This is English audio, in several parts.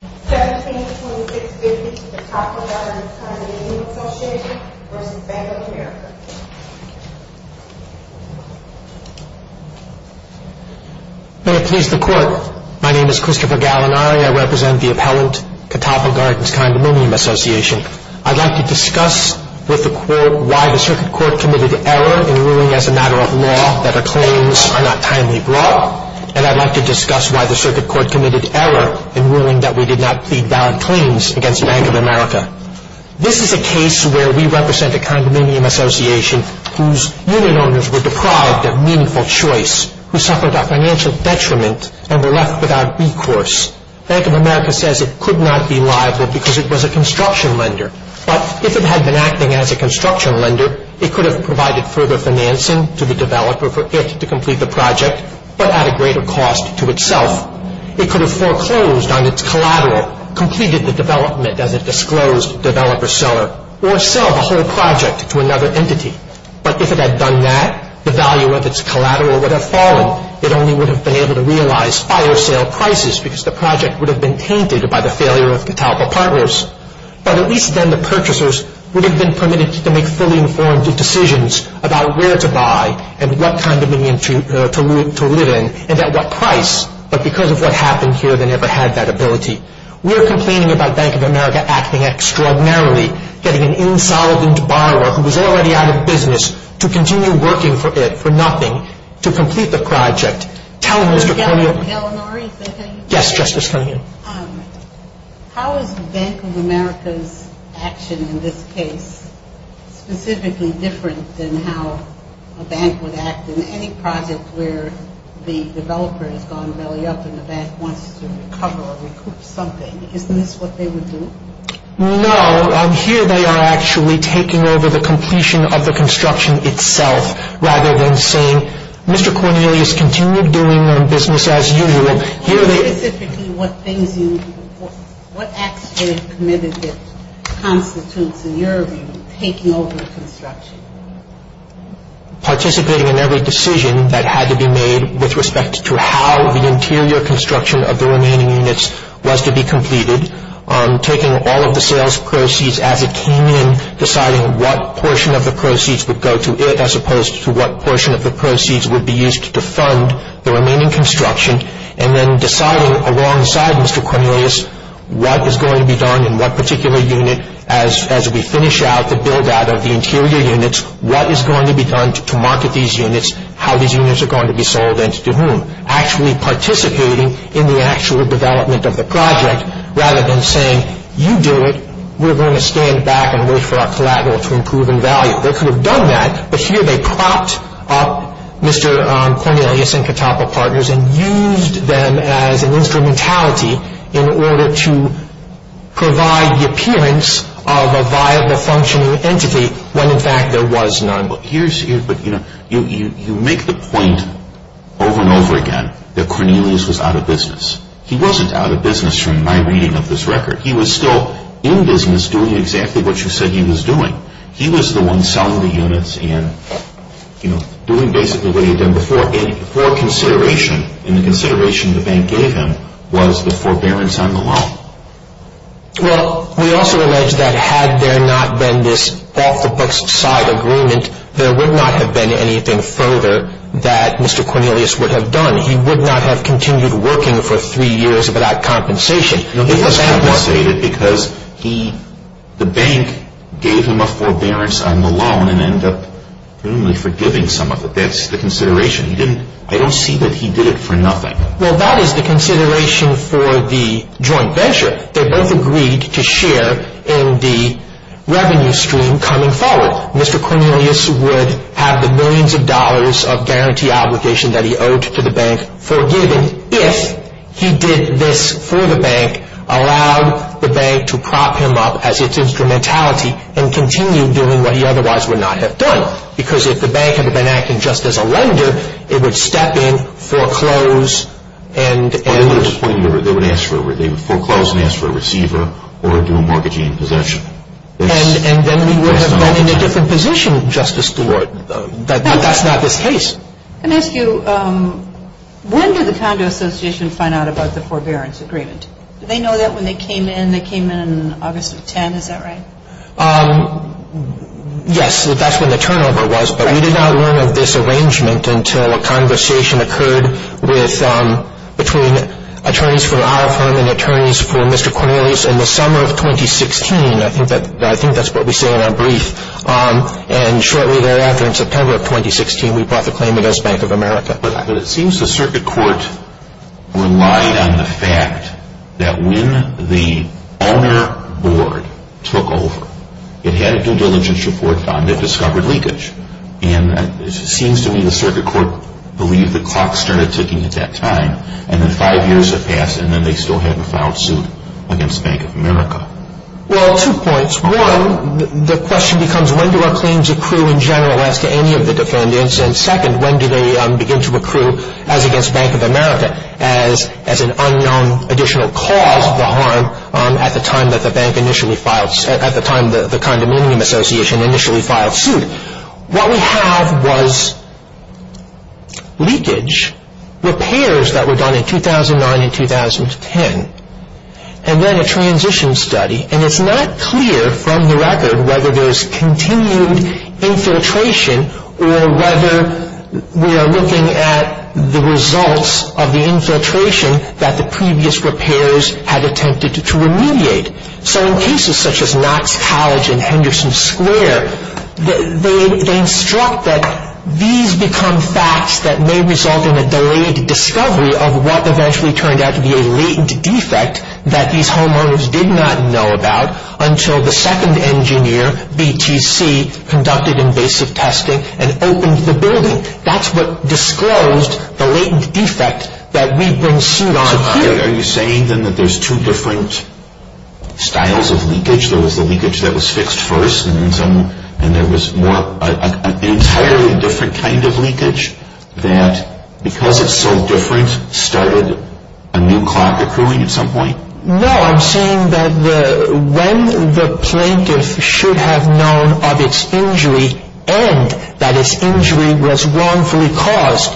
172650 Catawpa Gardens Condominium Association v. Bank of America May it please the Court. My name is Christopher Gallinari. I represent the appellant, Catawpa Gardens Condominium Association. I'd like to discuss with the Court why the Circuit Court committed error in ruling as a matter of law that her claims are not timely brought. And I'd like to discuss why the Circuit Court committed error in ruling that we did not plead valid claims against Bank of America. This is a case where we represent a condominium association whose unit owners were deprived of meaningful choice, who suffered a financial detriment and were left without recourse. Bank of America says it could not be liable because it was a construction lender. But if it had been acting as a construction lender, it could have provided further financing to the developer for it to complete the project. But at a greater cost to itself. It could have foreclosed on its collateral, completed the development as a disclosed developer-seller, or sell the whole project to another entity. But if it had done that, the value of its collateral would have fallen. It only would have been able to realize fire sale prices because the project would have been tainted by the failure of Catawpa Partners. But at least then the purchasers would have been permitted to make fully informed decisions about where to buy and what condominium to live in and at what price. But because of what happened here, they never had that ability. We're complaining about Bank of America acting extraordinarily, getting an insolvent borrower who was already out of business to continue working for it, for nothing, to complete the project. Tell Mr. Coneo... Mr. Gellinari, is that how you say it? Yes, Justice Coneo. How is Bank of America's action in this case specifically different than how a bank would act in any project where the developer has gone belly up and the bank wants to recover or recoup something? Isn't this what they would do? No, here they are actually taking over the completion of the construction itself rather than saying, Mr. Cornelius, continue doing your business as usual. Tell me specifically what things you, what acts they have committed that constitutes, in your view, taking over construction. Participating in every decision that had to be made with respect to how the interior construction of the remaining units was to be completed, taking all of the sales proceeds as it came in, deciding what portion of the proceeds would go to it as opposed to what portion of the proceeds would be used to fund the remaining construction, and then deciding alongside Mr. Cornelius what is going to be done in what particular unit as we finish out the build out of the interior units, what is going to be done to market these units, how these units are going to be sold and to whom. Actually participating in the actual development of the project rather than saying, you do it, we're going to stand back and wait for our collateral to improve in value. They could have done that, but here they propped up Mr. Cornelius and Catapa Partners and used them as an instrumentality in order to provide the appearance of a viable functioning entity when in fact there was none. But here's, you know, you make the point over and over again that Cornelius was out of business. He wasn't out of business from my reading of this record. He was still in business doing exactly what you said he was doing. He was the one selling the units and, you know, doing basically what he had done before. Before consideration and the consideration the bank gave him was the forbearance on the loan. Well, we also allege that had there not been this off-the-books side agreement, there would not have been anything further that Mr. Cornelius would have done. He would not have continued working for three years without compensation. It was compensated because the bank gave him a forbearance on the loan and ended up presumably forgiving some of it. That's the consideration. I don't see that he did it for nothing. Well, that is the consideration for the joint venture. They both agreed to share in the revenue stream coming forward. Mr. Cornelius would have the millions of dollars of guarantee obligation that he owed to the bank forgiven if he did this for the bank, allowed the bank to prop him up as its instrumentality and continued doing what he otherwise would not have done. Because if the bank had been acting just as a lender, it would step in, foreclose, and end. They would foreclose and ask for a receiver or do a mortgagee in possession. And then we would have gone in a different position, Justice Stewart. That's not the case. I'm going to ask you, when did the Condo Association find out about the forbearance agreement? Did they know that when they came in? They came in August of 2010, is that right? Yes, that's when the turnover was. But we did not learn of this arrangement until a conversation occurred between attorneys for our firm and attorneys for Mr. Cornelius in the summer of 2016. I think that's what we say in our brief. And shortly thereafter, in September of 2016, we brought the claim against Bank of America. But it seems the circuit court relied on the fact that when the owner board took over, it had a due diligence report found that discovered leakage. And it seems to me the circuit court believed the clock started ticking at that time and then five years had passed and then they still hadn't filed suit against Bank of America. Well, two points. One, the question becomes when do our claims accrue in general as to any of the defendants? And second, when do they begin to accrue as against Bank of America as an unknown additional cause of the harm at the time that the condominium association initially filed suit? What we have was leakage, repairs that were done in 2009 and 2010, and then a transition study. And it's not clear from the record whether there's continued infiltration or whether we are looking at the results of the infiltration that the previous repairs had attempted to remediate. So in cases such as Knox College and Henderson Square, they instruct that these become facts that may result in a delayed discovery of what eventually turned out to be a latent defect that these homeowners did not know about until the second engineer, BTC, conducted invasive testing and opened the building. That's what disclosed the latent defect that we bring suit on here. So are you saying then that there's two different styles of leakage? There was the leakage that was fixed first and there was an entirely different kind of leakage that, because it's so different, started a new clock accruing at some point? No, I'm saying that when the plaintiff should have known of its injury and that its injury was wrongfully caused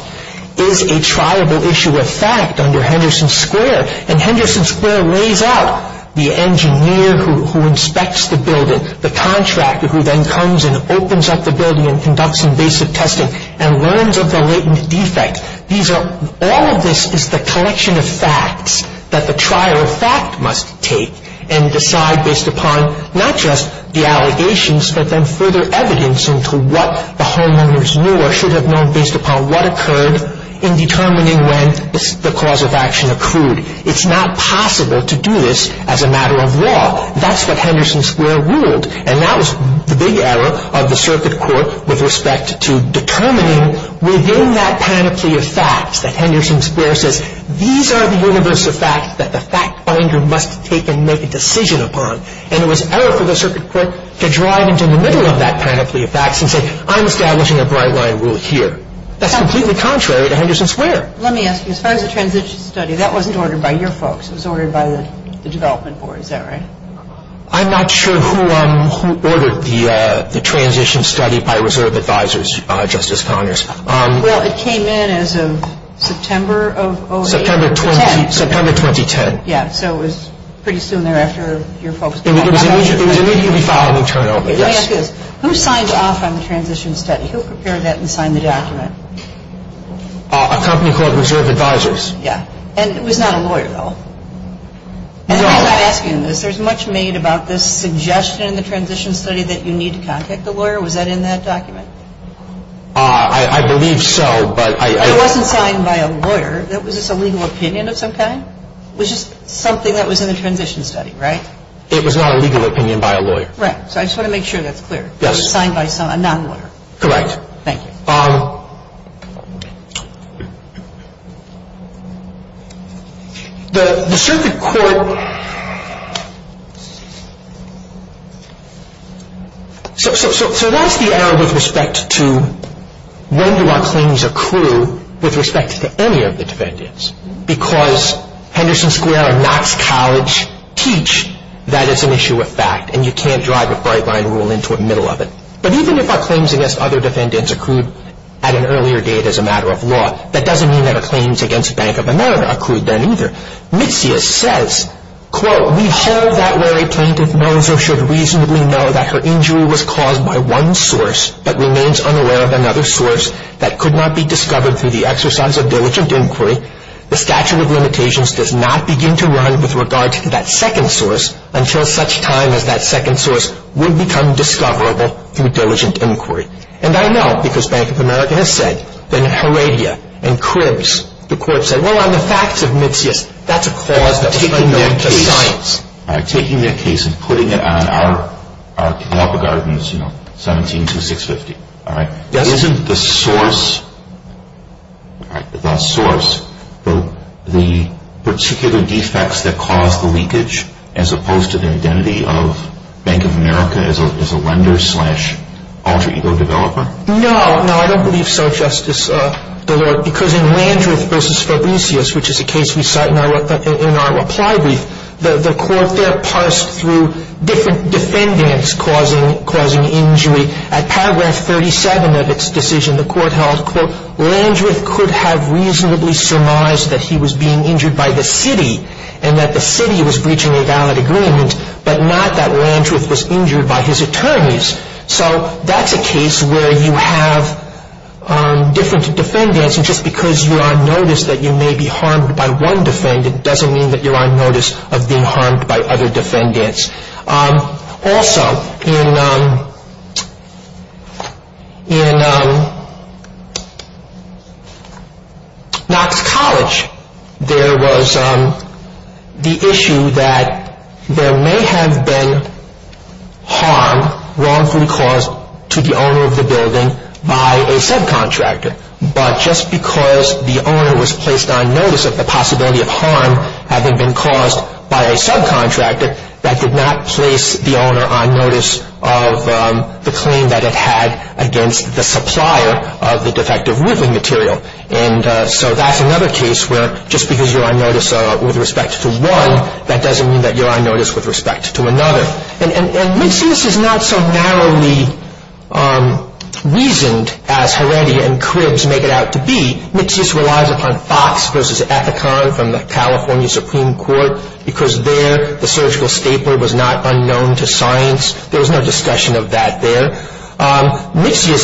is a triable issue of fact under Henderson Square. And Henderson Square lays out the engineer who inspects the building, the contractor who then comes and opens up the building and conducts invasive testing and learns of the latent defect. All of this is the collection of facts that the trial of fact must take and decide based upon not just the allegations but then further evidence into what the homeowners knew or should have known based upon what occurred in determining when the cause of action accrued. It's not possible to do this as a matter of law. That's what Henderson Square ruled, and that was the big error of the circuit court with respect to determining within that panoply of facts that Henderson Square says, these are the universe of facts that the fact finder must take and make a decision upon. And it was error for the circuit court to drive into the middle of that panoply of facts and say, I'm establishing a bright line rule here. That's completely contrary to Henderson Square. Let me ask you, as far as the transition study, that wasn't ordered by your folks. It was ordered by the development board, is that right? I'm not sure who ordered the transition study by reserve advisors, Justice Connors. Well, it came in as of September of 2010. September 2010. Yeah, so it was pretty soon thereafter. It was immediately followed and turned over, yes. Let me ask you this. Who signed off on the transition study? Who prepared that and signed the document? A company called Reserve Advisors. Yeah. And it was not a lawyer, though? No. I'm not asking this. There's much made about this suggestion in the transition study that you need to contact a lawyer. Was that in that document? I believe so. But it wasn't signed by a lawyer. Was this a legal opinion of some kind? It was just something that was in the transition study, right? It was not a legal opinion by a lawyer. Right. So I just want to make sure that's clear. It was signed by a non-lawyer. Correct. Thank you. The circuit court – so that's the error with respect to when do our claims accrue with respect to any of the defendants because Henderson Square and Knox College teach that it's an issue of fact and you can't drive a bright line rule into the middle of it. But even if our claims against other defendants accrued at an earlier date as a matter of law, that doesn't mean that our claims against Bank of America accrued then either. Mitzias says, quote, We hold that where a plaintiff knows or should reasonably know that her injury was caused by one source but remains unaware of another source that could not be discovered through the exercise of diligent inquiry, the statute of limitations does not begin to run with regard to that second source until such time as that second source would become discoverable through diligent inquiry. And I know because Bank of America has said that Heredia and Cribs, the court said, Well, on the facts of Mitzias, that's a cause that was unknown to science. All right. Taking that case and putting it on our cooperative ordinance, you know, 172650. All right. Isn't the source, the source, the particular defects that caused the leakage as opposed to the identity of Bank of America as a lender slash alter ego developer? No. No, I don't believe so, Justice Delord, because in Landreth v. Fabricius, which is a case we cite in our reply brief, the court there parsed through different defendants causing injury. At paragraph 37 of its decision, the court held, Landreth could have reasonably surmised that he was being injured by the city and that the city was breaching a valid agreement but not that Landreth was injured by his attorneys. So that's a case where you have different defendants, and just because you're on notice that you may be harmed by one defendant doesn't mean that you're on notice of being harmed by other defendants. Also, in Knox College, there was the issue that there may have been harm wrongfully caused to the owner of the building by a subcontractor, but just because the owner was placed on notice of the possibility of harm having been caused by a subcontractor, that did not place the owner on notice of the claim that it had against the supplier of the defective woodland material. And so that's another case where just because you're on notice with respect to one, that doesn't mean that you're on notice with respect to another. And Mixius is not so narrowly reasoned as Heredia and Cribs make it out to be. Mixius relies upon Fox v. Ethicon from the California Supreme Court because there the surgical stapler was not unknown to science. There was no discussion of that there. Mixius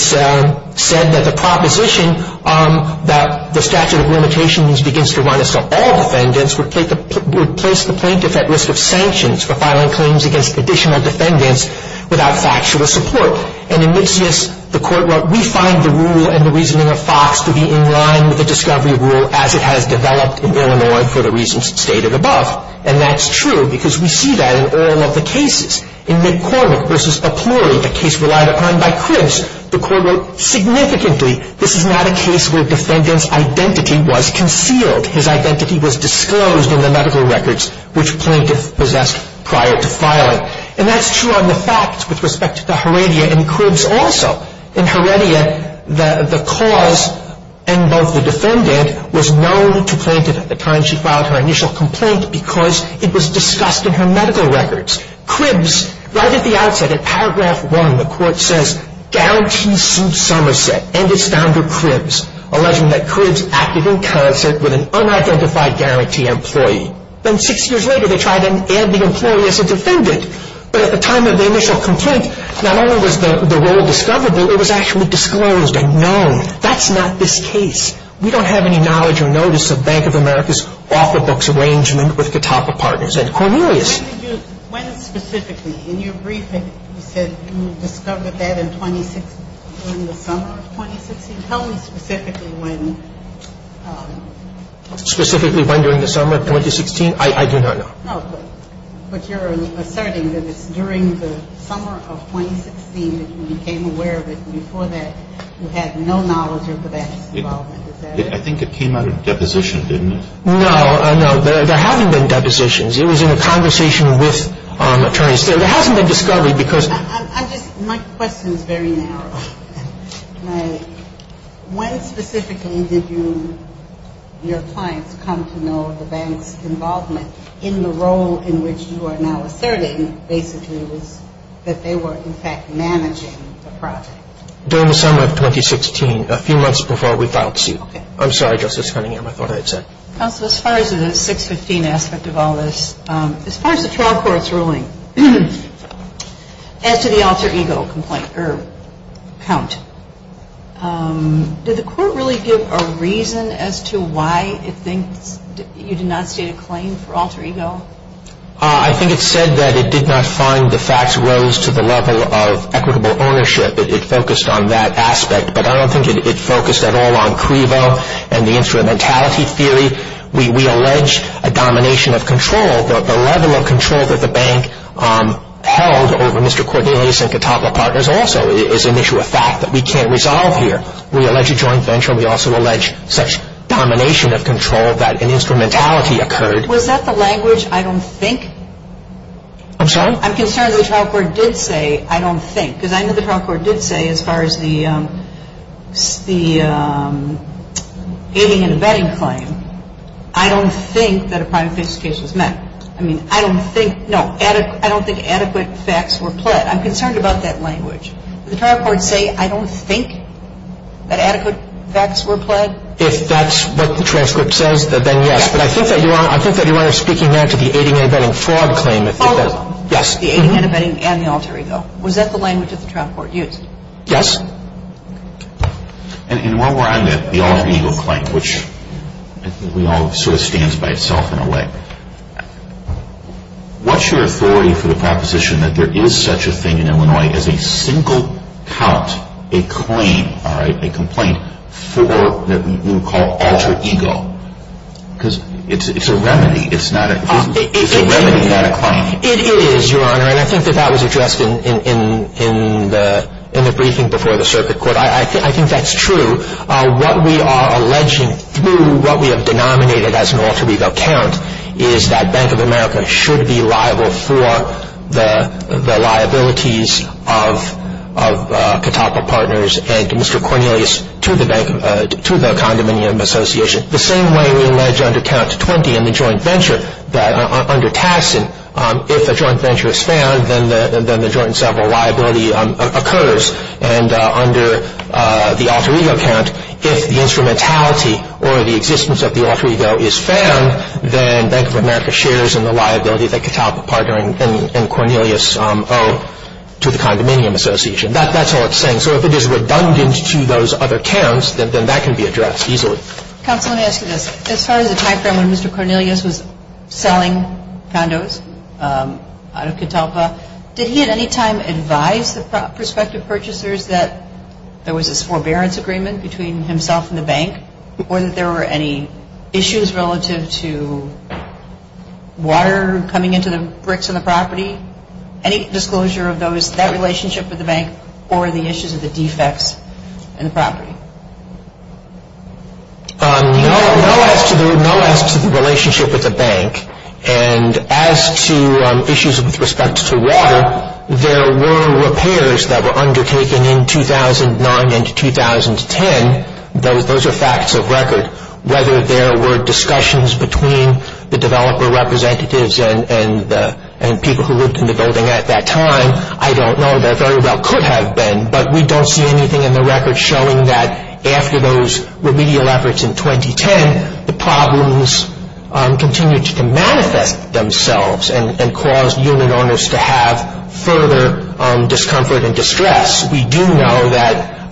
said that the proposition that the statute of limitations begins to run itself, all defendants would place the plaintiff at risk of sanctions for filing claims against additional defendants without factual support. And in Mixius, the court wrote, we find the rule and the reasoning of Fox to be in line with the discovery rule as it has developed in Illinois for the reasons stated above. And that's true because we see that in all of the cases. In McCormick v. O'Cleary, a case relied upon by Cribs, the court wrote significantly, this is not a case where defendant's identity was concealed. His identity was disclosed in the medical records which plaintiff possessed prior to filing. And that's true on the facts with respect to Heredia and Cribs also. In Heredia, the cause and both the defendant was known to plaintiff at the time she filed her initial complaint because it was discussed in her medical records. Cribs, right at the outset, in paragraph one, the court says, guarantee suit Somerset and its founder Cribs, alleging that Cribs acted in concert with an unidentified guarantee employee. Then six years later, they tried to add the employee as a defendant. But at the time of the initial complaint, not only was the rule discoverable, it was actually disclosed and known. That's not this case. We don't have any knowledge or notice of Bank of America's offer books arrangement with Catawba Partners and Cornelius. When did you – when specifically? In your briefing, you said you discovered that in 2016, during the summer of 2016. Tell me specifically when. Specifically when during the summer of 2016? I do not know. No, but you're asserting that it's during the summer of 2016 that you became aware of it. Before that, you had no knowledge of the bank's involvement. I think it came under deposition, didn't it? No, no. There haven't been depositions. It was in a conversation with attorneys. There hasn't been discovery because – I'm just – my question is very narrow. When specifically did you – your clients come to know of the bank's involvement in the role in which you are now asserting basically was that they were in fact managing the project? During the summer of 2016, a few months before we filed suit. Okay. I'm sorry, Justice Cunningham. I thought I had said – Counsel, as far as the 615 aspect of all this, as far as the trial court's ruling, as to the alter ego complaint or count, did the court really give a reason as to why it thinks you did not state a claim for alter ego? I think it said that it did not find the facts rose to the level of equitable ownership. It focused on that aspect. But I don't think it focused at all on CREVO and the instrumentality theory. We allege a domination of control. The level of control that the bank held over Mr. Cordelius and Catawba Partners also is an issue of fact that we can't resolve here. We allege a joint venture. We also allege such domination of control that an instrumentality occurred. Was that the language, I don't think? I'm sorry? I'm concerned that the trial court did say, I don't think, because I know the trial court did say, as far as the aiding and abetting claim, I don't think that a prime case case was met. I mean, I don't think – no, I don't think adequate facts were pled. I'm concerned about that language. Did the trial court say, I don't think that adequate facts were pled? If that's what the transcript says, then yes. But I think that you are speaking now to the aiding and abetting fraud claim. Yes. The aiding and abetting and the alter ego. Was that the language that the trial court used? Yes. And while we're on that, the alter ego claim, which I think we all sort of stand by itself in a way. What's your authority for the proposition that there is such a thing in Illinois as a single count, a claim, all right, a complaint for what we would call alter ego? Because it's a remedy. It is, Your Honor, and I think that that was addressed in the briefing before the circuit court. I think that's true. What we are alleging through what we have denominated as an alter ego count is that Bank of America should be liable for the liabilities of Catawba Partners and Mr. Cornelius to the condominium association. The same way we allege under count 20 in the joint venture that under Tassin, if a joint venture is found, then the joint and several liability occurs. And under the alter ego count, if the instrumentality or the existence of the alter ego is found, then Bank of America shares in the liability that Catawba Partners and Cornelius owe to the condominium association. That's all it's saying. So if it is redundant to those other counts, then that can be addressed easily. Counsel, let me ask you this. As far as the time frame when Mr. Cornelius was selling condos out of Catawba, did he at any time advise the prospective purchasers that there was this forbearance agreement between himself and the bank or that there were any issues relative to water coming into the bricks on the property? Any disclosure of that relationship with the bank or the issues of the defects in the property? No. No as to the relationship with the bank. And as to issues with respect to water, there were repairs that were undertaken in 2009 and 2010. Those are facts of record. Whether there were discussions between the developer representatives and people who lived in the building at that time, I don't know. There very well could have been. But we don't see anything in the record showing that after those remedial efforts in 2010, the problems continued to manifest themselves and caused unit owners to have further discomfort and distress. We do know that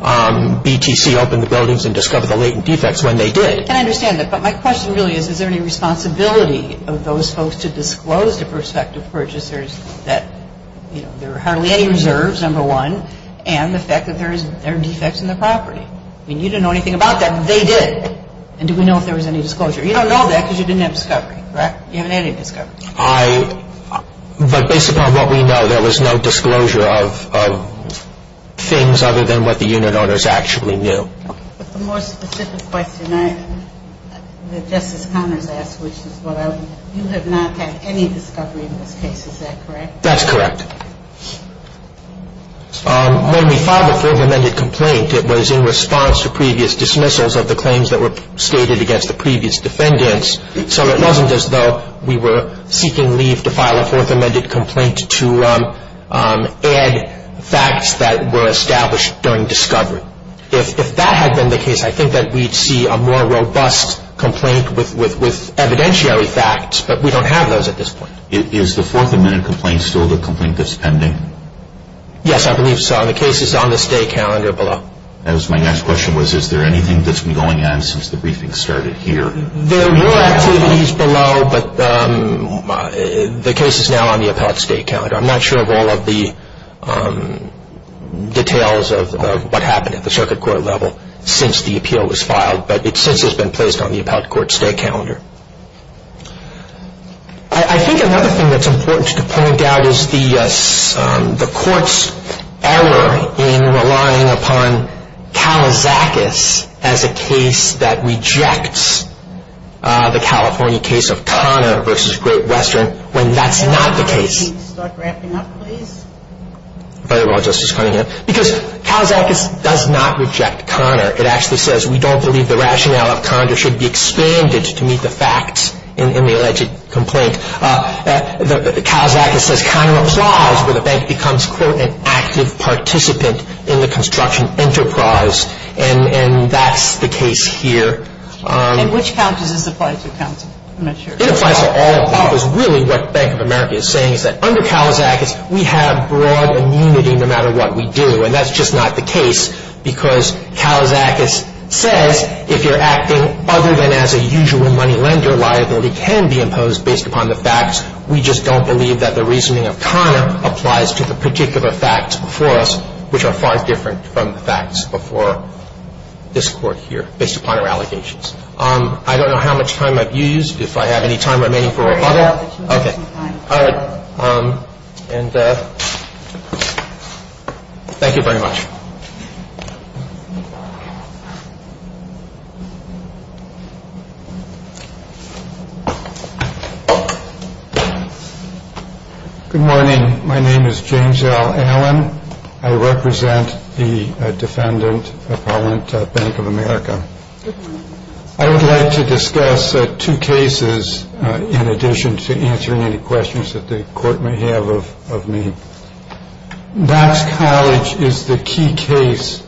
BTC opened the buildings and discovered the latent defects when they did. And I understand that. But my question really is, is there any responsibility of those folks to disclose to prospective purchasers that there are hardly any reserves, number one, and the fact that there are defects in the property? I mean, you didn't know anything about that, but they did. And do we know if there was any disclosure? You don't know that because you didn't have discovery, correct? You haven't had any discovery. But based upon what we know, there was no disclosure of things other than what the unit owners actually knew. But the more specific question that Justice Connors asked, which is what I would, you have not had any discovery in this case, is that correct? That's correct. When we filed a further amended complaint, it was in response to previous dismissals of the claims that were stated against the previous defendants. So it wasn't as though we were seeking leave to file a fourth amended complaint to add facts that were established during discovery. If that had been the case, I think that we'd see a more robust complaint with evidentiary facts. But we don't have those at this point. Is the fourth amended complaint still the complaint that's pending? Yes, I believe so. And the case is on the stay calendar below. My next question was, is there anything that's been going on since the briefing started here? There were activities below, but the case is now on the appellate stay calendar. I'm not sure of all of the details of what happened at the circuit court level since the appeal was filed, but it since has been placed on the appellate court stay calendar. I think another thing that's important to point out is the court's error in relying upon Kalisakis as a case that rejects the California case of Conner v. Great Western when that's not the case. Could you start wrapping up, please? If I could, Justice Cunningham. Because Kalisakis does not reject Conner. It actually says, we don't believe the rationale of Conner should be expanded to meet the facts in the alleged complaint. Kalisakis says Conner applies where the bank becomes, quote, an active participant in the construction enterprise, and that's the case here. And which count does this apply to, counsel? I'm not sure. It applies to all. Because really what Bank of America is saying is that under Kalisakis, we have broad immunity no matter what we do. And that's just not the case because Kalisakis says if you're acting other than as a usual money lender, liability can be imposed based upon the facts. We just don't believe that the reasoning of Conner applies to the particular facts before us, which are far different from the facts before this Court here based upon our allegations. I don't know how much time I've used. If I have any time remaining for one other? Very little. Okay. All right. And thank you very much. Good morning. My name is James L. Allen. I represent the defendant, Appellant Bank of America. I would like to discuss two cases in addition to answering any questions that the Court may have of me. Knox College is the key case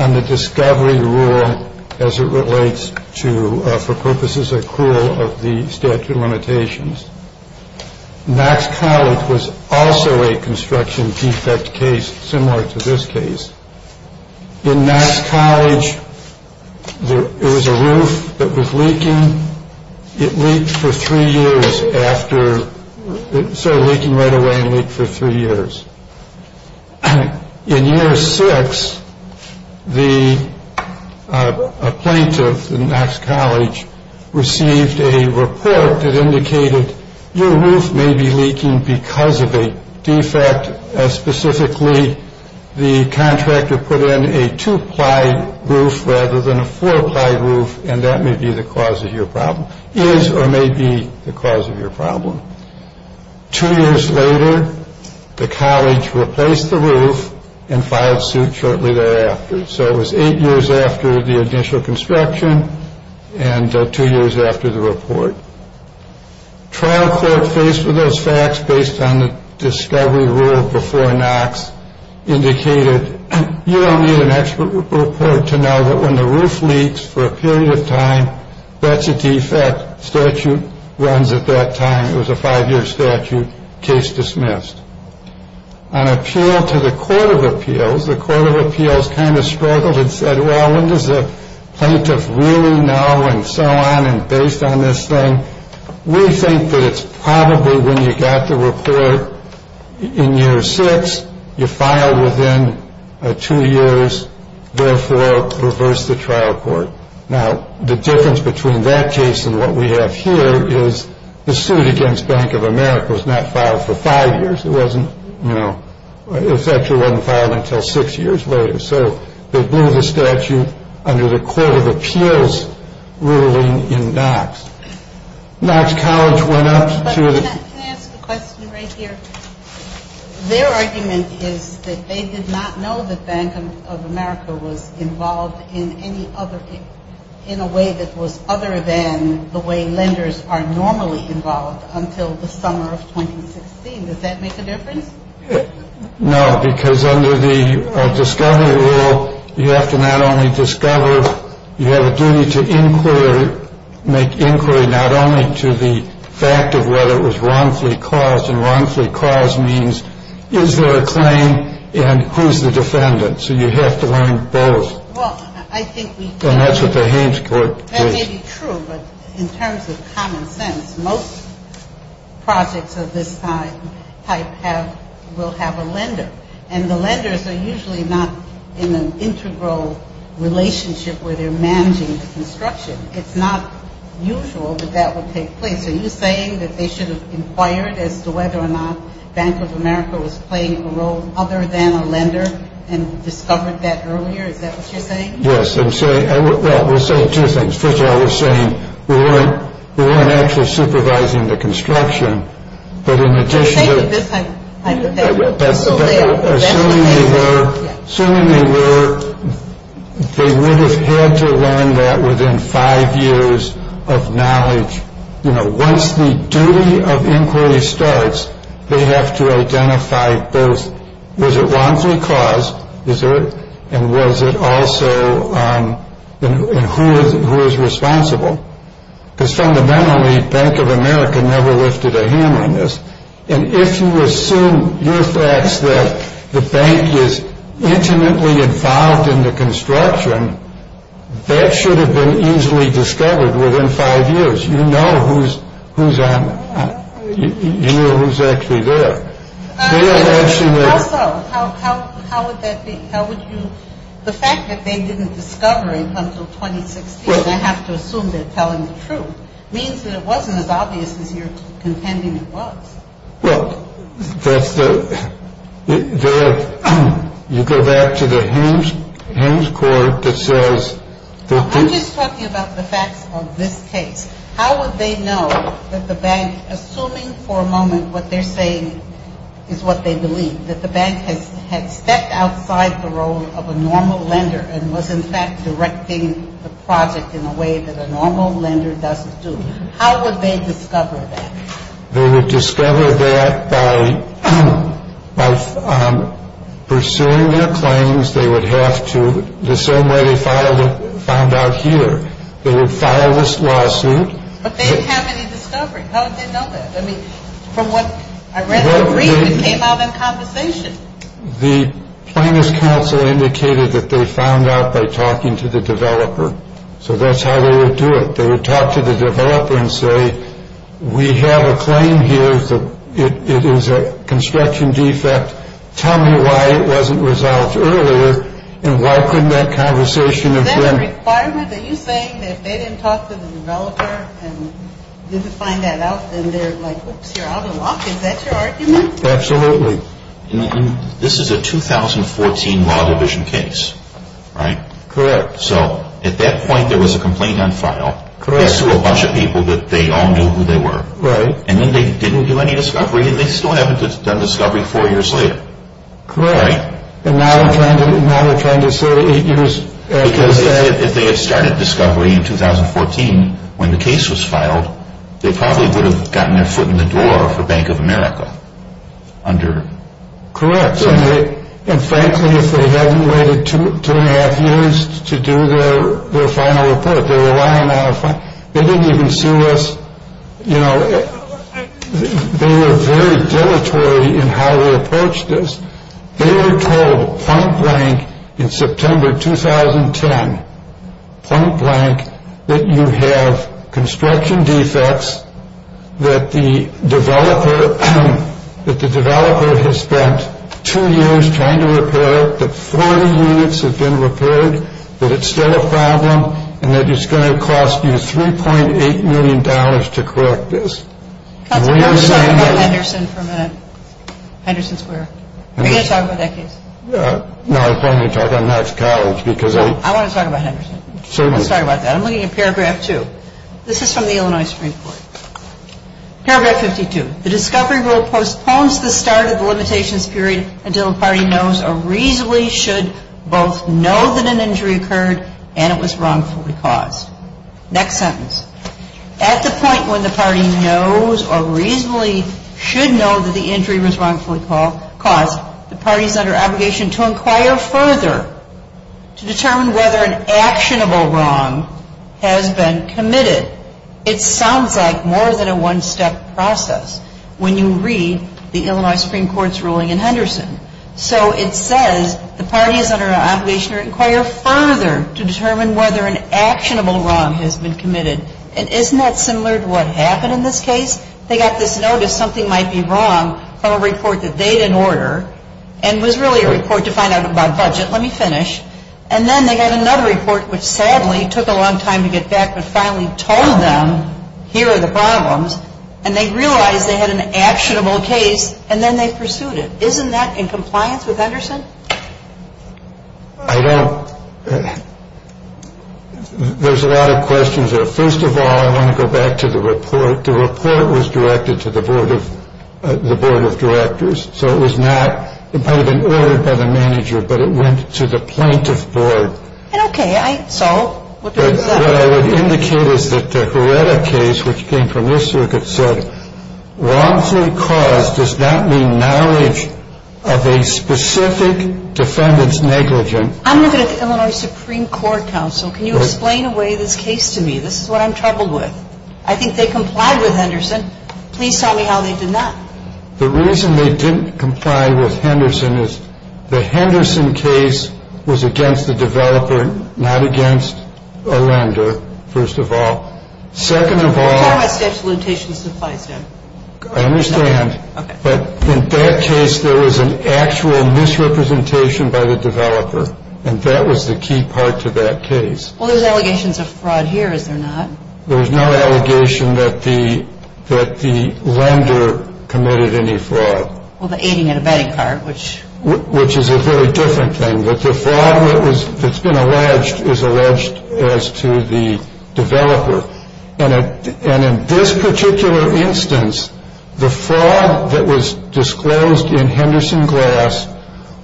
on the discovery rule as it relates to for purposes of cruel of the statute of limitations. Knox College was also a construction defect case similar to this case. In Knox College, there was a roof that was leaking. It leaked for three years after it started leaking right away and leaked for three years. In year six, a plaintiff in Knox College received a report that indicated your roof may be leaking because of a defect, that specifically the contractor put in a two-ply roof rather than a four-ply roof, and that may be the cause of your problem, is or may be the cause of your problem. Two years later, the college replaced the roof and filed suit shortly thereafter. So it was eight years after the initial construction and two years after the report. Trial court faced with those facts based on the discovery rule before Knox indicated, you don't need an expert report to know that when the roof leaks for a period of time, that's a defect. Statute runs at that time. It was a five-year statute. Case dismissed. On appeal to the Court of Appeals, the Court of Appeals kind of struggled and said, well, when does the plaintiff really know and so on, and based on this thing, we think that it's probably when you got the report in year six, you filed within two years, therefore reversed the trial court. Now, the difference between that case and what we have here is the suit against Bank of America was not filed for five years. It wasn't, you know, it actually wasn't filed until six years later. So they blew the statute under the Court of Appeals ruling in Knox. Knox College went up to the- Can I ask a question right here? Their argument is that they did not know that Bank of America was involved in any other, in a way that was other than the way lenders are normally involved until the summer of 2016. Does that make a difference? No, because under the discovery rule, you have to not only discover, you have a duty to inquire, make inquiry not only to the fact of whether it was wrongfully caused, and wrongfully caused means is there a claim and who's the defendant? So you have to learn both. Well, I think we do. And that's what the Haynes Court did. That may be true, but in terms of common sense, most projects of this type will have a lender. And the lenders are usually not in an integral relationship where they're managing the construction. It's not usual that that would take place. Are you saying that they should have inquired as to whether or not Bank of America was playing a role other than a lender and discovered that earlier? Is that what you're saying? Yes. Well, I will say two things. First of all, we're saying we weren't actually supervising the construction. But in addition to... I'm saying that this time. But assuming they were, they would have had to learn that within five years of knowledge. You know, once the duty of inquiry starts, they have to identify both was it wrongfully caused, and was it also, and who is responsible? Because fundamentally, Bank of America never lifted a hand on this. And if you assume your facts that the bank is intimately involved in the construction, that should have been easily discovered within five years. You know who's actually there. Also, how would that be? How would you... The fact that they didn't discover it until 2016, I have to assume they're telling the truth, means that it wasn't as obvious as you're contending it was. Well, that's the... You go back to the Hames court that says... I'm just talking about the facts of this case. How would they know that the bank, assuming for a moment what they're saying is what they believe, that the bank had stepped outside the role of a normal lender and was in fact directing the project in a way that a normal lender doesn't do? How would they discover that? They would discover that by pursuing their claims. They would have to, the same way they found out here. They would file this lawsuit. But they didn't have any discovery. How would they know that? I mean, from what I read in the brief, it came out in conversation. The plaintiff's counsel indicated that they found out by talking to the developer. So that's how they would do it. They would talk to the developer and say, we have a claim here that it is a construction defect. Tell me why it wasn't resolved earlier and why couldn't that conversation have been... Are you saying that if they didn't talk to the developer and didn't find that out, then they're like, oops, you're out of luck? Is that your argument? Absolutely. This is a 2014 Law Division case, right? Correct. So at that point there was a complaint on file. Correct. To a bunch of people that they all knew who they were. Right. And then they didn't do any discovery and they still haven't done discovery four years later. Correct. Right? And now they're trying to say eight years... Because if they had started discovery in 2014 when the case was filed, they probably would have gotten their foot in the door for Bank of America under... Correct. And frankly, if they hadn't waited two and a half years to do their final report, they were lying on a... They didn't even sue us. You know, they were very dilatory in how they approached this. They were told point blank in September 2010, point blank, that you have construction defects that the developer has spent two years trying to repair, that 40 units have been repaired, that it's still a problem, and that it's going to cost you $3.8 million to correct this. Counselor, let's talk about Henderson for a minute. Henderson Square. Are you going to talk about that case? No, I plan to talk on Max College because I... I want to talk about Henderson. Certainly. Let's talk about that. I'm looking at paragraph two. This is from the Illinois Supreme Court. Paragraph 52. The discovery rule postpones the start of the limitations period until the party knows or reasonably should both know that an injury occurred and it was wrongfully caused. Next sentence. At the point when the party knows or reasonably should know that the injury was wrongfully caused, the party is under obligation to inquire further to determine whether an actionable wrong has been committed. It sounds like more than a one-step process when you read the Illinois Supreme Court's ruling in Henderson. So it says the party is under obligation to inquire further to determine whether an actionable wrong has been committed. And isn't that similar to what happened in this case? They got this notice something might be wrong from a report that they didn't order and was really a report to find out about budget. Let me finish. And then they got another report which sadly took a long time to get back but finally told them here are the problems, and they realized they had an actionable case and then they pursued it. Isn't that in compliance with Henderson? I don't – there's a lot of questions there. First of all, I want to go back to the report. The report was directed to the board of directors, so it was not – it might have been ordered by the manager, but it went to the plaintiff board. Okay. So what does that mean? What I would indicate is that the Hereta case, which came from this circuit, wrongfully caused does not mean marriage of a specific defendant's negligence. I'm looking at the Illinois Supreme Court counsel. Can you explain away this case to me? This is what I'm troubled with. I think they complied with Henderson. Please tell me how they did not. The reason they didn't comply with Henderson is the Henderson case was against the developer, not against a lender, first of all. Second of all – Tell me what statute of limitations this applies to. I understand. Okay. But in that case, there was an actual misrepresentation by the developer, and that was the key part to that case. Well, there's allegations of fraud here, is there not? There's no allegation that the lender committed any fraud. Well, the aiding and abetting part, which – Which is a very different thing. That the fraud that's been alleged is alleged as to the developer. And in this particular instance, the fraud that was disclosed in Henderson Glass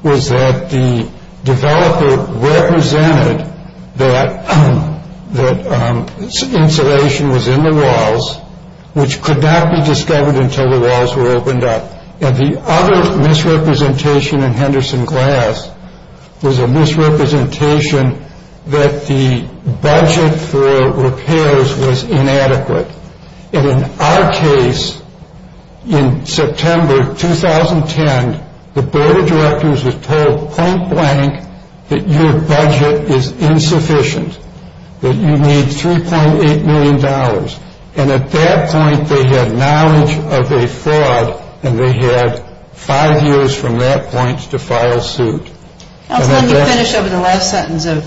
was that the developer represented that insulation was in the walls, which could not be discovered until the walls were opened up. And the other misrepresentation in Henderson Glass was a misrepresentation that the budget for repairs was inadequate. And in our case, in September 2010, the board of directors was told point blank that your budget is insufficient, that you need $3.8 million. And at that point, they had knowledge of a fraud, and they had five years from that point to file suit. Let me finish over the last sentence of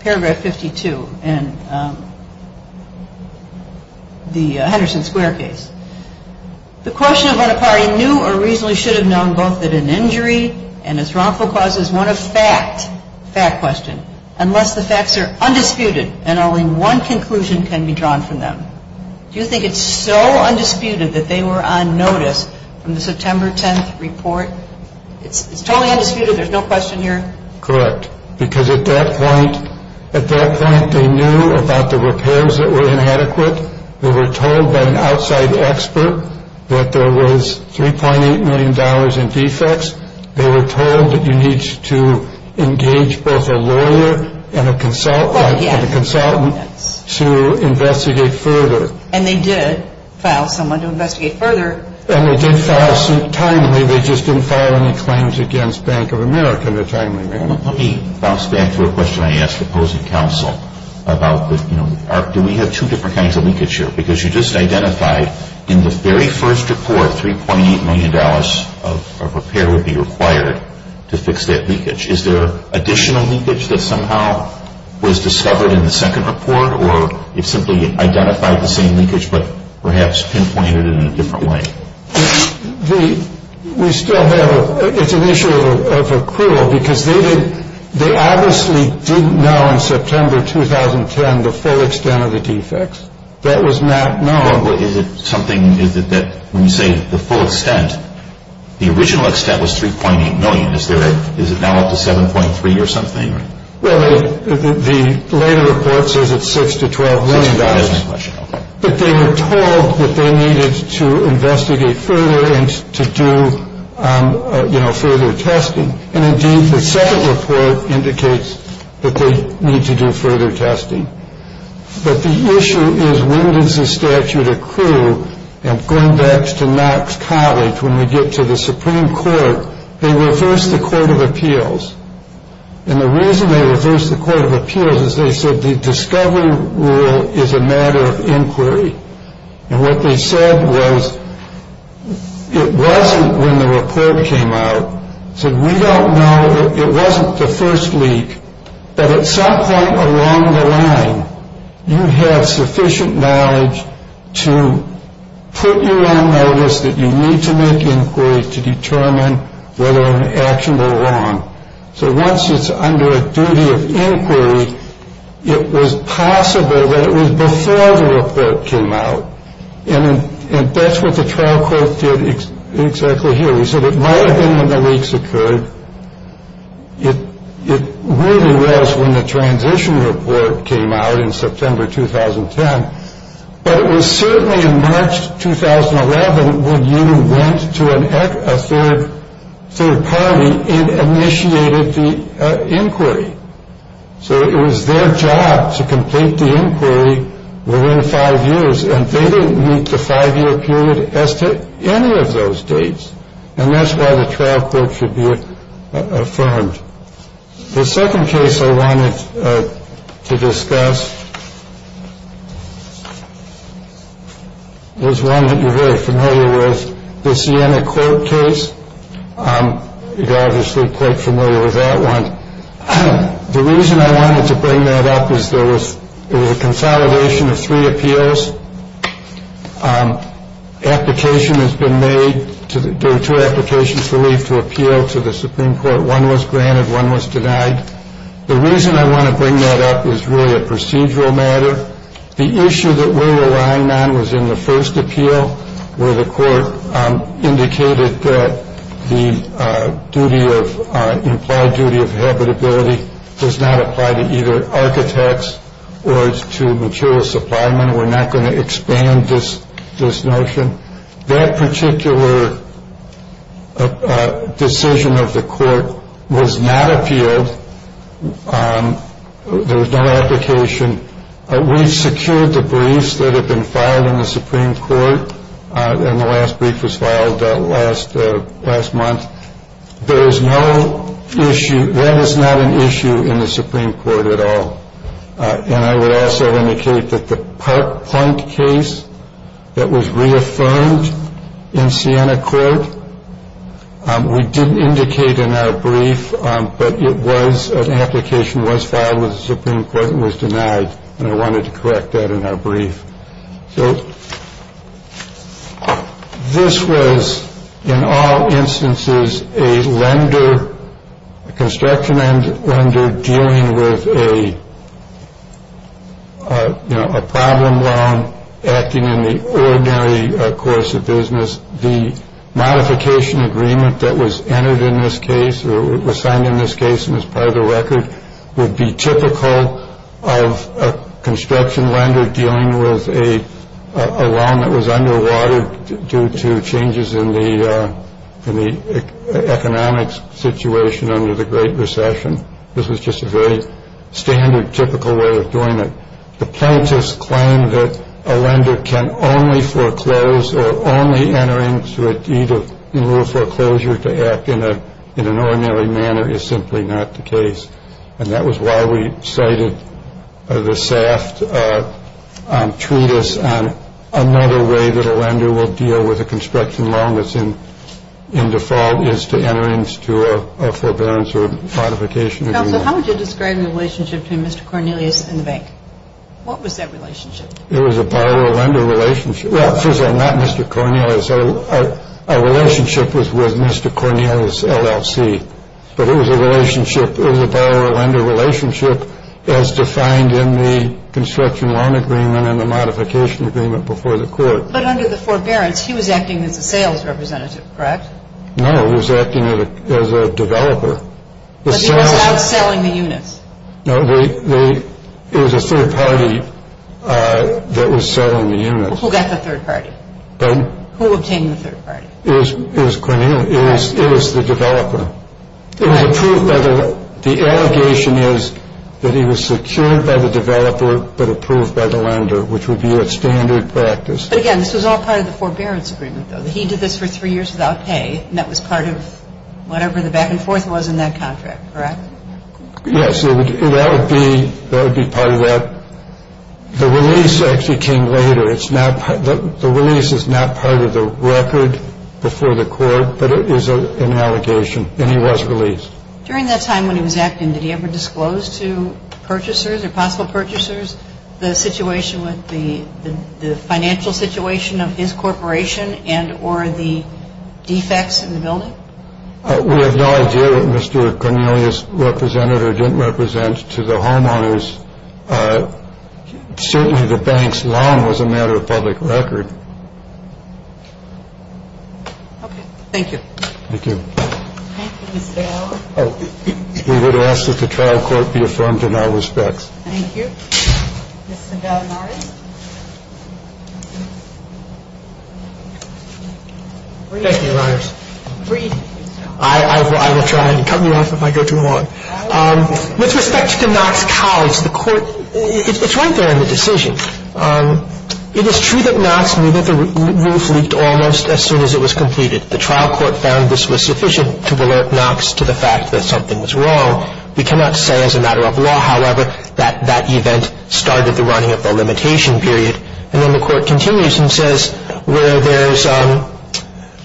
paragraph 52 in the Henderson Square case. The question of when a party knew or reasonably should have known both that an injury and its wrongful cause is one of fact, fact question, unless the facts are undisputed and only one conclusion can be drawn from them. Do you think it's so undisputed that they were on notice from the September 10th report? It's totally undisputed, there's no question here? Correct. Because at that point, they knew about the repairs that were inadequate. They were told by an outside expert that there was $3.8 million in defects. They were told that you need to engage both a lawyer and a consultant to investigate further. And they did file someone to investigate further. And they did file suit timely. They just didn't file any claims against Bank of America in a timely manner. Let me bounce back to a question I asked opposing counsel about, you know, do we have two different kinds of leakage here? Because you just identified in the very first report $3.8 million of repair would be required to fix that leakage. Is there additional leakage that somehow was discovered in the second report? Or it simply identified the same leakage but perhaps pinpointed it in a different way? We still have, it's an issue of accrual because they obviously didn't know in September 2010 the full extent of the defects. That was not known. Is it something, is it that when you say the full extent, the original extent was $3.8 million. Is it now up to $7.3 million or something? Well, the later report says it's $6 to $12 million. That's my question. But they were told that they needed to investigate further and to do, you know, further testing. And indeed, the second report indicates that they need to do further testing. But the issue is when does the statute accrue? And going back to Knox College, when we get to the Supreme Court, they reversed the Court of Appeals. And the reason they reversed the Court of Appeals is they said the discovery rule is a matter of inquiry. And what they said was it wasn't when the report came out. They said we don't know, it wasn't the first leak, but at some point along the line, you have sufficient knowledge to put you on notice that you need to make inquiry to determine whether an action went wrong. So once it's under a duty of inquiry, it was possible that it was before the report came out. And that's what the trial court did exactly here. They said it might have been when the leaks occurred. It really was when the transition report came out in September 2010. But it was certainly in March 2011 when you went to a third party and initiated the inquiry. So it was their job to complete the inquiry within five years. And they didn't meet the five-year period as to any of those dates. And that's why the trial court should be affirmed. The second case I wanted to discuss is one that you're very familiar with, the Sienna Court case. You're obviously quite familiar with that one. The reason I wanted to bring that up is there was a consolidation of three appeals. There were two applications for leave to appeal to the Supreme Court. One was granted, one was denied. The reason I want to bring that up is really a procedural matter. The issue that we're relying on was in the first appeal, where the court indicated that the implied duty of habitability does not apply to either architects or to material supply men. We're not going to expand this notion. That particular decision of the court was not appealed. There was no application. We've secured the briefs that have been filed in the Supreme Court. And the last brief was filed last month. There is no issue. That is not an issue in the Supreme Court at all. And I would also indicate that the Park Plunk case that was reaffirmed in Sienna Court, we didn't indicate in our brief. But it was an application was filed with the Supreme Court and was denied. And I wanted to correct that in our brief. So this was, in all instances, a lender, a construction lender dealing with a problem loan acting in the ordinary course of business. The modification agreement that was entered in this case or was signed in this case and is part of the record would be typical of a construction lender dealing with a loan that was underwater due to changes in the economic situation under the Great Recession. This was just a very standard, typical way of doing it. The plaintiffs claim that a lender can only foreclose or only enter into it either in lieu of foreclosure to act in an ordinary manner is simply not the case. And that was why we cited the SAFT treatise on another way that a lender will deal with a construction loan that's in default is to enter into a forbearance or a modification agreement. So how would you describe the relationship between Mr. Cornelius and the bank? What was that relationship? It was a borrower-lender relationship. Well, first of all, not Mr. Cornelius. Our relationship was with Mr. Cornelius, LLC. But it was a borrower-lender relationship as defined in the construction loan agreement and the modification agreement before the court. But under the forbearance, he was acting as a sales representative, correct? No, he was acting as a developer. But he was outselling the units. No, it was a third party that was selling the units. Well, who got the third party? Pardon? Who obtained the third party? It was Cornelius. It was the developer. Correct. The allegation is that he was secured by the developer but approved by the lender, which would be a standard practice. But, again, this was all part of the forbearance agreement, though. So he did this for three years without pay, and that was part of whatever the back and forth was in that contract, correct? Yes. That would be part of that. The release actually came later. The release is not part of the record before the court, but it is an allegation. And he was released. During that time when he was acting, did he ever disclose to purchasers or possible purchasers the situation with the financial situation of his corporation and or the defects in the building? We have no idea what Mr. Cornelius represented or didn't represent to the homeowners. Certainly the bank's loan was a matter of public record. Okay. Thank you. Thank you. Thank you, Mr. Allen. We would ask that the trial court be affirmed in all respects. Thank you. Mr. McNary. Thank you, Your Honors. I will try and cut you off if I go too long. With respect to Knox College, the court, it's right there in the decision. It is true that Knox knew that the roof leaked almost as soon as it was completed. The trial court found this was sufficient to alert Knox to the fact that something was wrong. We cannot say as a matter of law, however, that that event started the running of the limitation period. And then the court continues and says where there's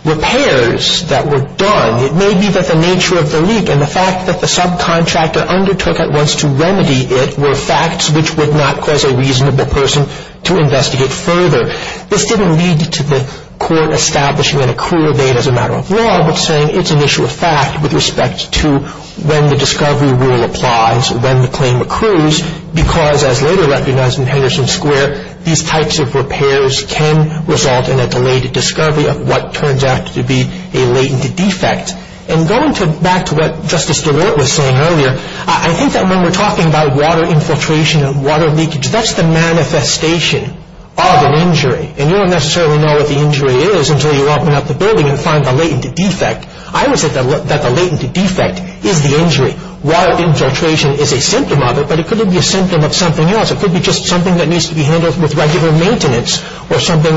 repairs that were done, it may be that the nature of the leak and the fact that the subcontractor undertook at once to remedy it were facts which would not cause a reasonable person to investigate further. This didn't lead to the court establishing an accrual date as a matter of law, but saying it's an issue of fact with respect to when the discovery rule applies, when the claim accrues, because as later recognized in Henderson Square, these types of repairs can result in a delayed discovery of what turns out to be a latent defect. And going back to what Justice DeWart was saying earlier, I think that when we're talking about water infiltration and water leakage, that's the manifestation of an injury. And you don't necessarily know what the injury is until you open up the building and find the latent defect. I would say that the latent defect is the injury. Water infiltration is a symptom of it, but it could be a symptom of something else. It could be just something that needs to be handled with regular maintenance or something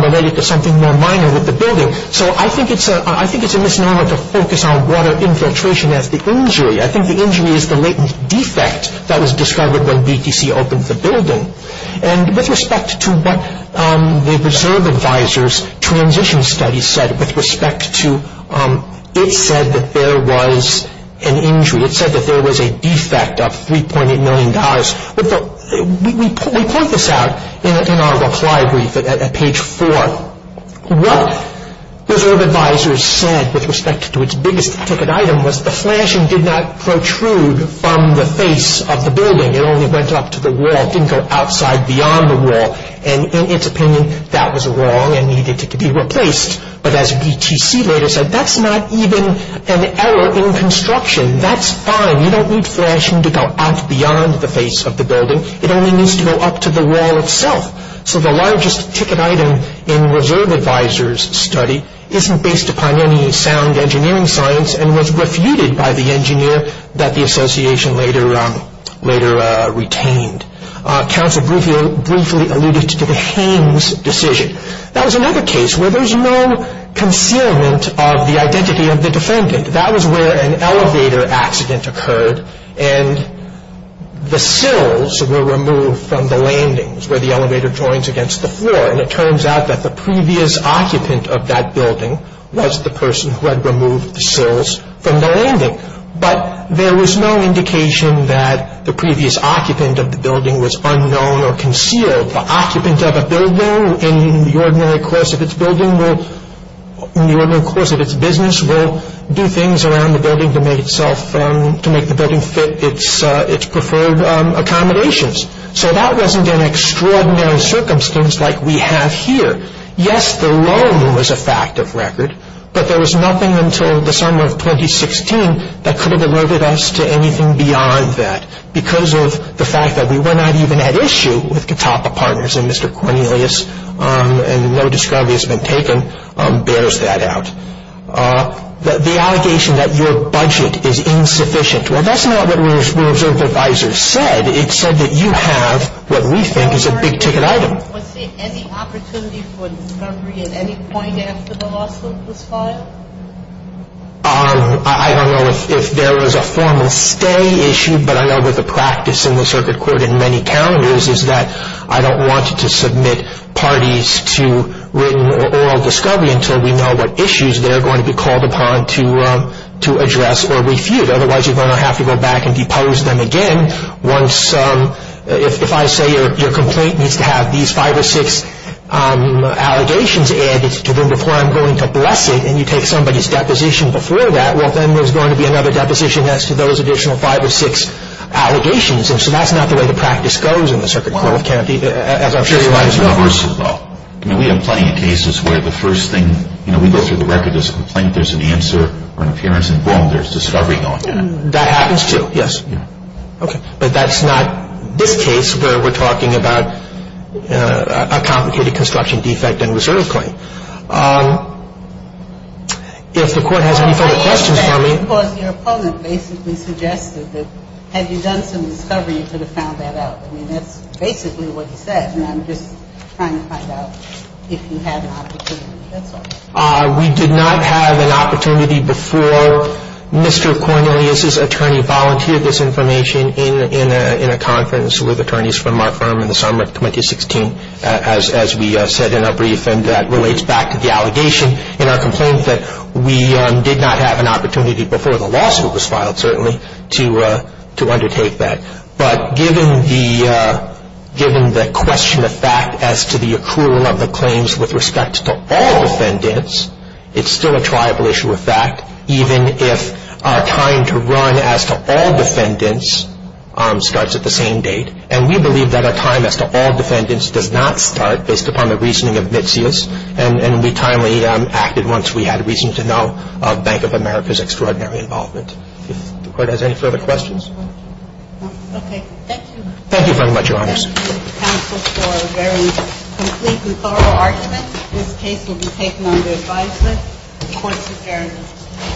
related to something more minor with the building. So I think it's a misnomer to focus on water infiltration as the injury. I think the injury is the latent defect that was discovered when BTC opened the building. And with respect to what the Reserve Advisor's transition study said with respect to it said that there was an injury. It said that there was a defect of $3.8 million. We point this out in our reply brief at page 4. What Reserve Advisor said with respect to its biggest ticket item was the flashing did not protrude from the face of the building. It only went up to the wall. It didn't go outside beyond the wall. And in its opinion, that was wrong and needed to be replaced. But as BTC later said, that's not even an error in construction. That's fine. You don't need flashing to go out beyond the face of the building. It only needs to go up to the wall itself. So the largest ticket item in Reserve Advisor's study isn't based upon any sound engineering science and was refuted by the engineer that the association later retained. Counsel briefly alluded to the Haines decision. That was another case where there's no concealment of the identity of the defendant. That was where an elevator accident occurred and the sills were removed from the landings where the elevator joins against the floor. And it turns out that the previous occupant of that building was the person who had removed the sills from the landing. But there was no indication that the previous occupant of the building was unknown or concealed. The occupant of a building in the ordinary course of its building will, in the ordinary course of its business, will do things around the building to make itself, to make the building fit its preferred accommodations. So that wasn't an extraordinary circumstance like we have here. Yes, the loan was a fact of record, but there was nothing until the summer of 2016 that could have eluded us to anything beyond that because of the fact that we were not even at issue with Katapa Partners, and Mr. Cornelius, and no discovery has been taken, bears that out. The allegation that your budget is insufficient, well, that's not what Reserve Advisor said. It said that you have what we think is a big-ticket item. Was there any opportunity for discovery at any point after the loss of this file? I don't know if there was a formal stay issue, but I know that the practice in the Circuit Court in many calendars is that I don't want to submit parties to written or oral discovery until we know what issues they're going to be called upon to address or refute. Otherwise, you're going to have to go back and depose them again. If I say your complaint needs to have these five or six allegations added to them before I'm going to bless it, and you take somebody's deposition before that, well, then there's going to be another deposition as to those additional five or six allegations. So that's not the way the practice goes in the Circuit Court of Kennedy, as I'm sure you might as well. We have plenty of cases where the first thing we go through the record is a complaint. There's an answer or an appearance, and boom, there's discovery going on. That happens, too. Yes. Okay. But that's not this case where we're talking about a complicated construction defect and reserve claim. If the Court has any further questions for me. Because your opponent basically suggested that had you done some discovery, you could have found that out. I mean, that's basically what he said, and I'm just trying to find out if you had an opportunity. That's all. We did not have an opportunity before Mr. Cornelius's attorney volunteered this information in a conference with attorneys from our firm in the summer of 2016, as we said in our brief, and that relates back to the allegation in our complaint that we did not have an opportunity before the lawsuit was filed, certainly, to undertake that. But given the question of fact as to the accrual of the claims with respect to all defendants, it's still a triable issue of fact, even if our time to run as to all defendants starts at the same date. And we believe that our time as to all defendants does not start based upon the reasoning of Mitzias, and we timely acted once we had reason to know of Bank of America's extraordinary involvement. If the Court has any further questions. Okay. Thank you. Thank you very much, Your Honors. Thank you, counsel, for a very complete and thorough argument. This case will be taken under advisement. The Court is adjourned.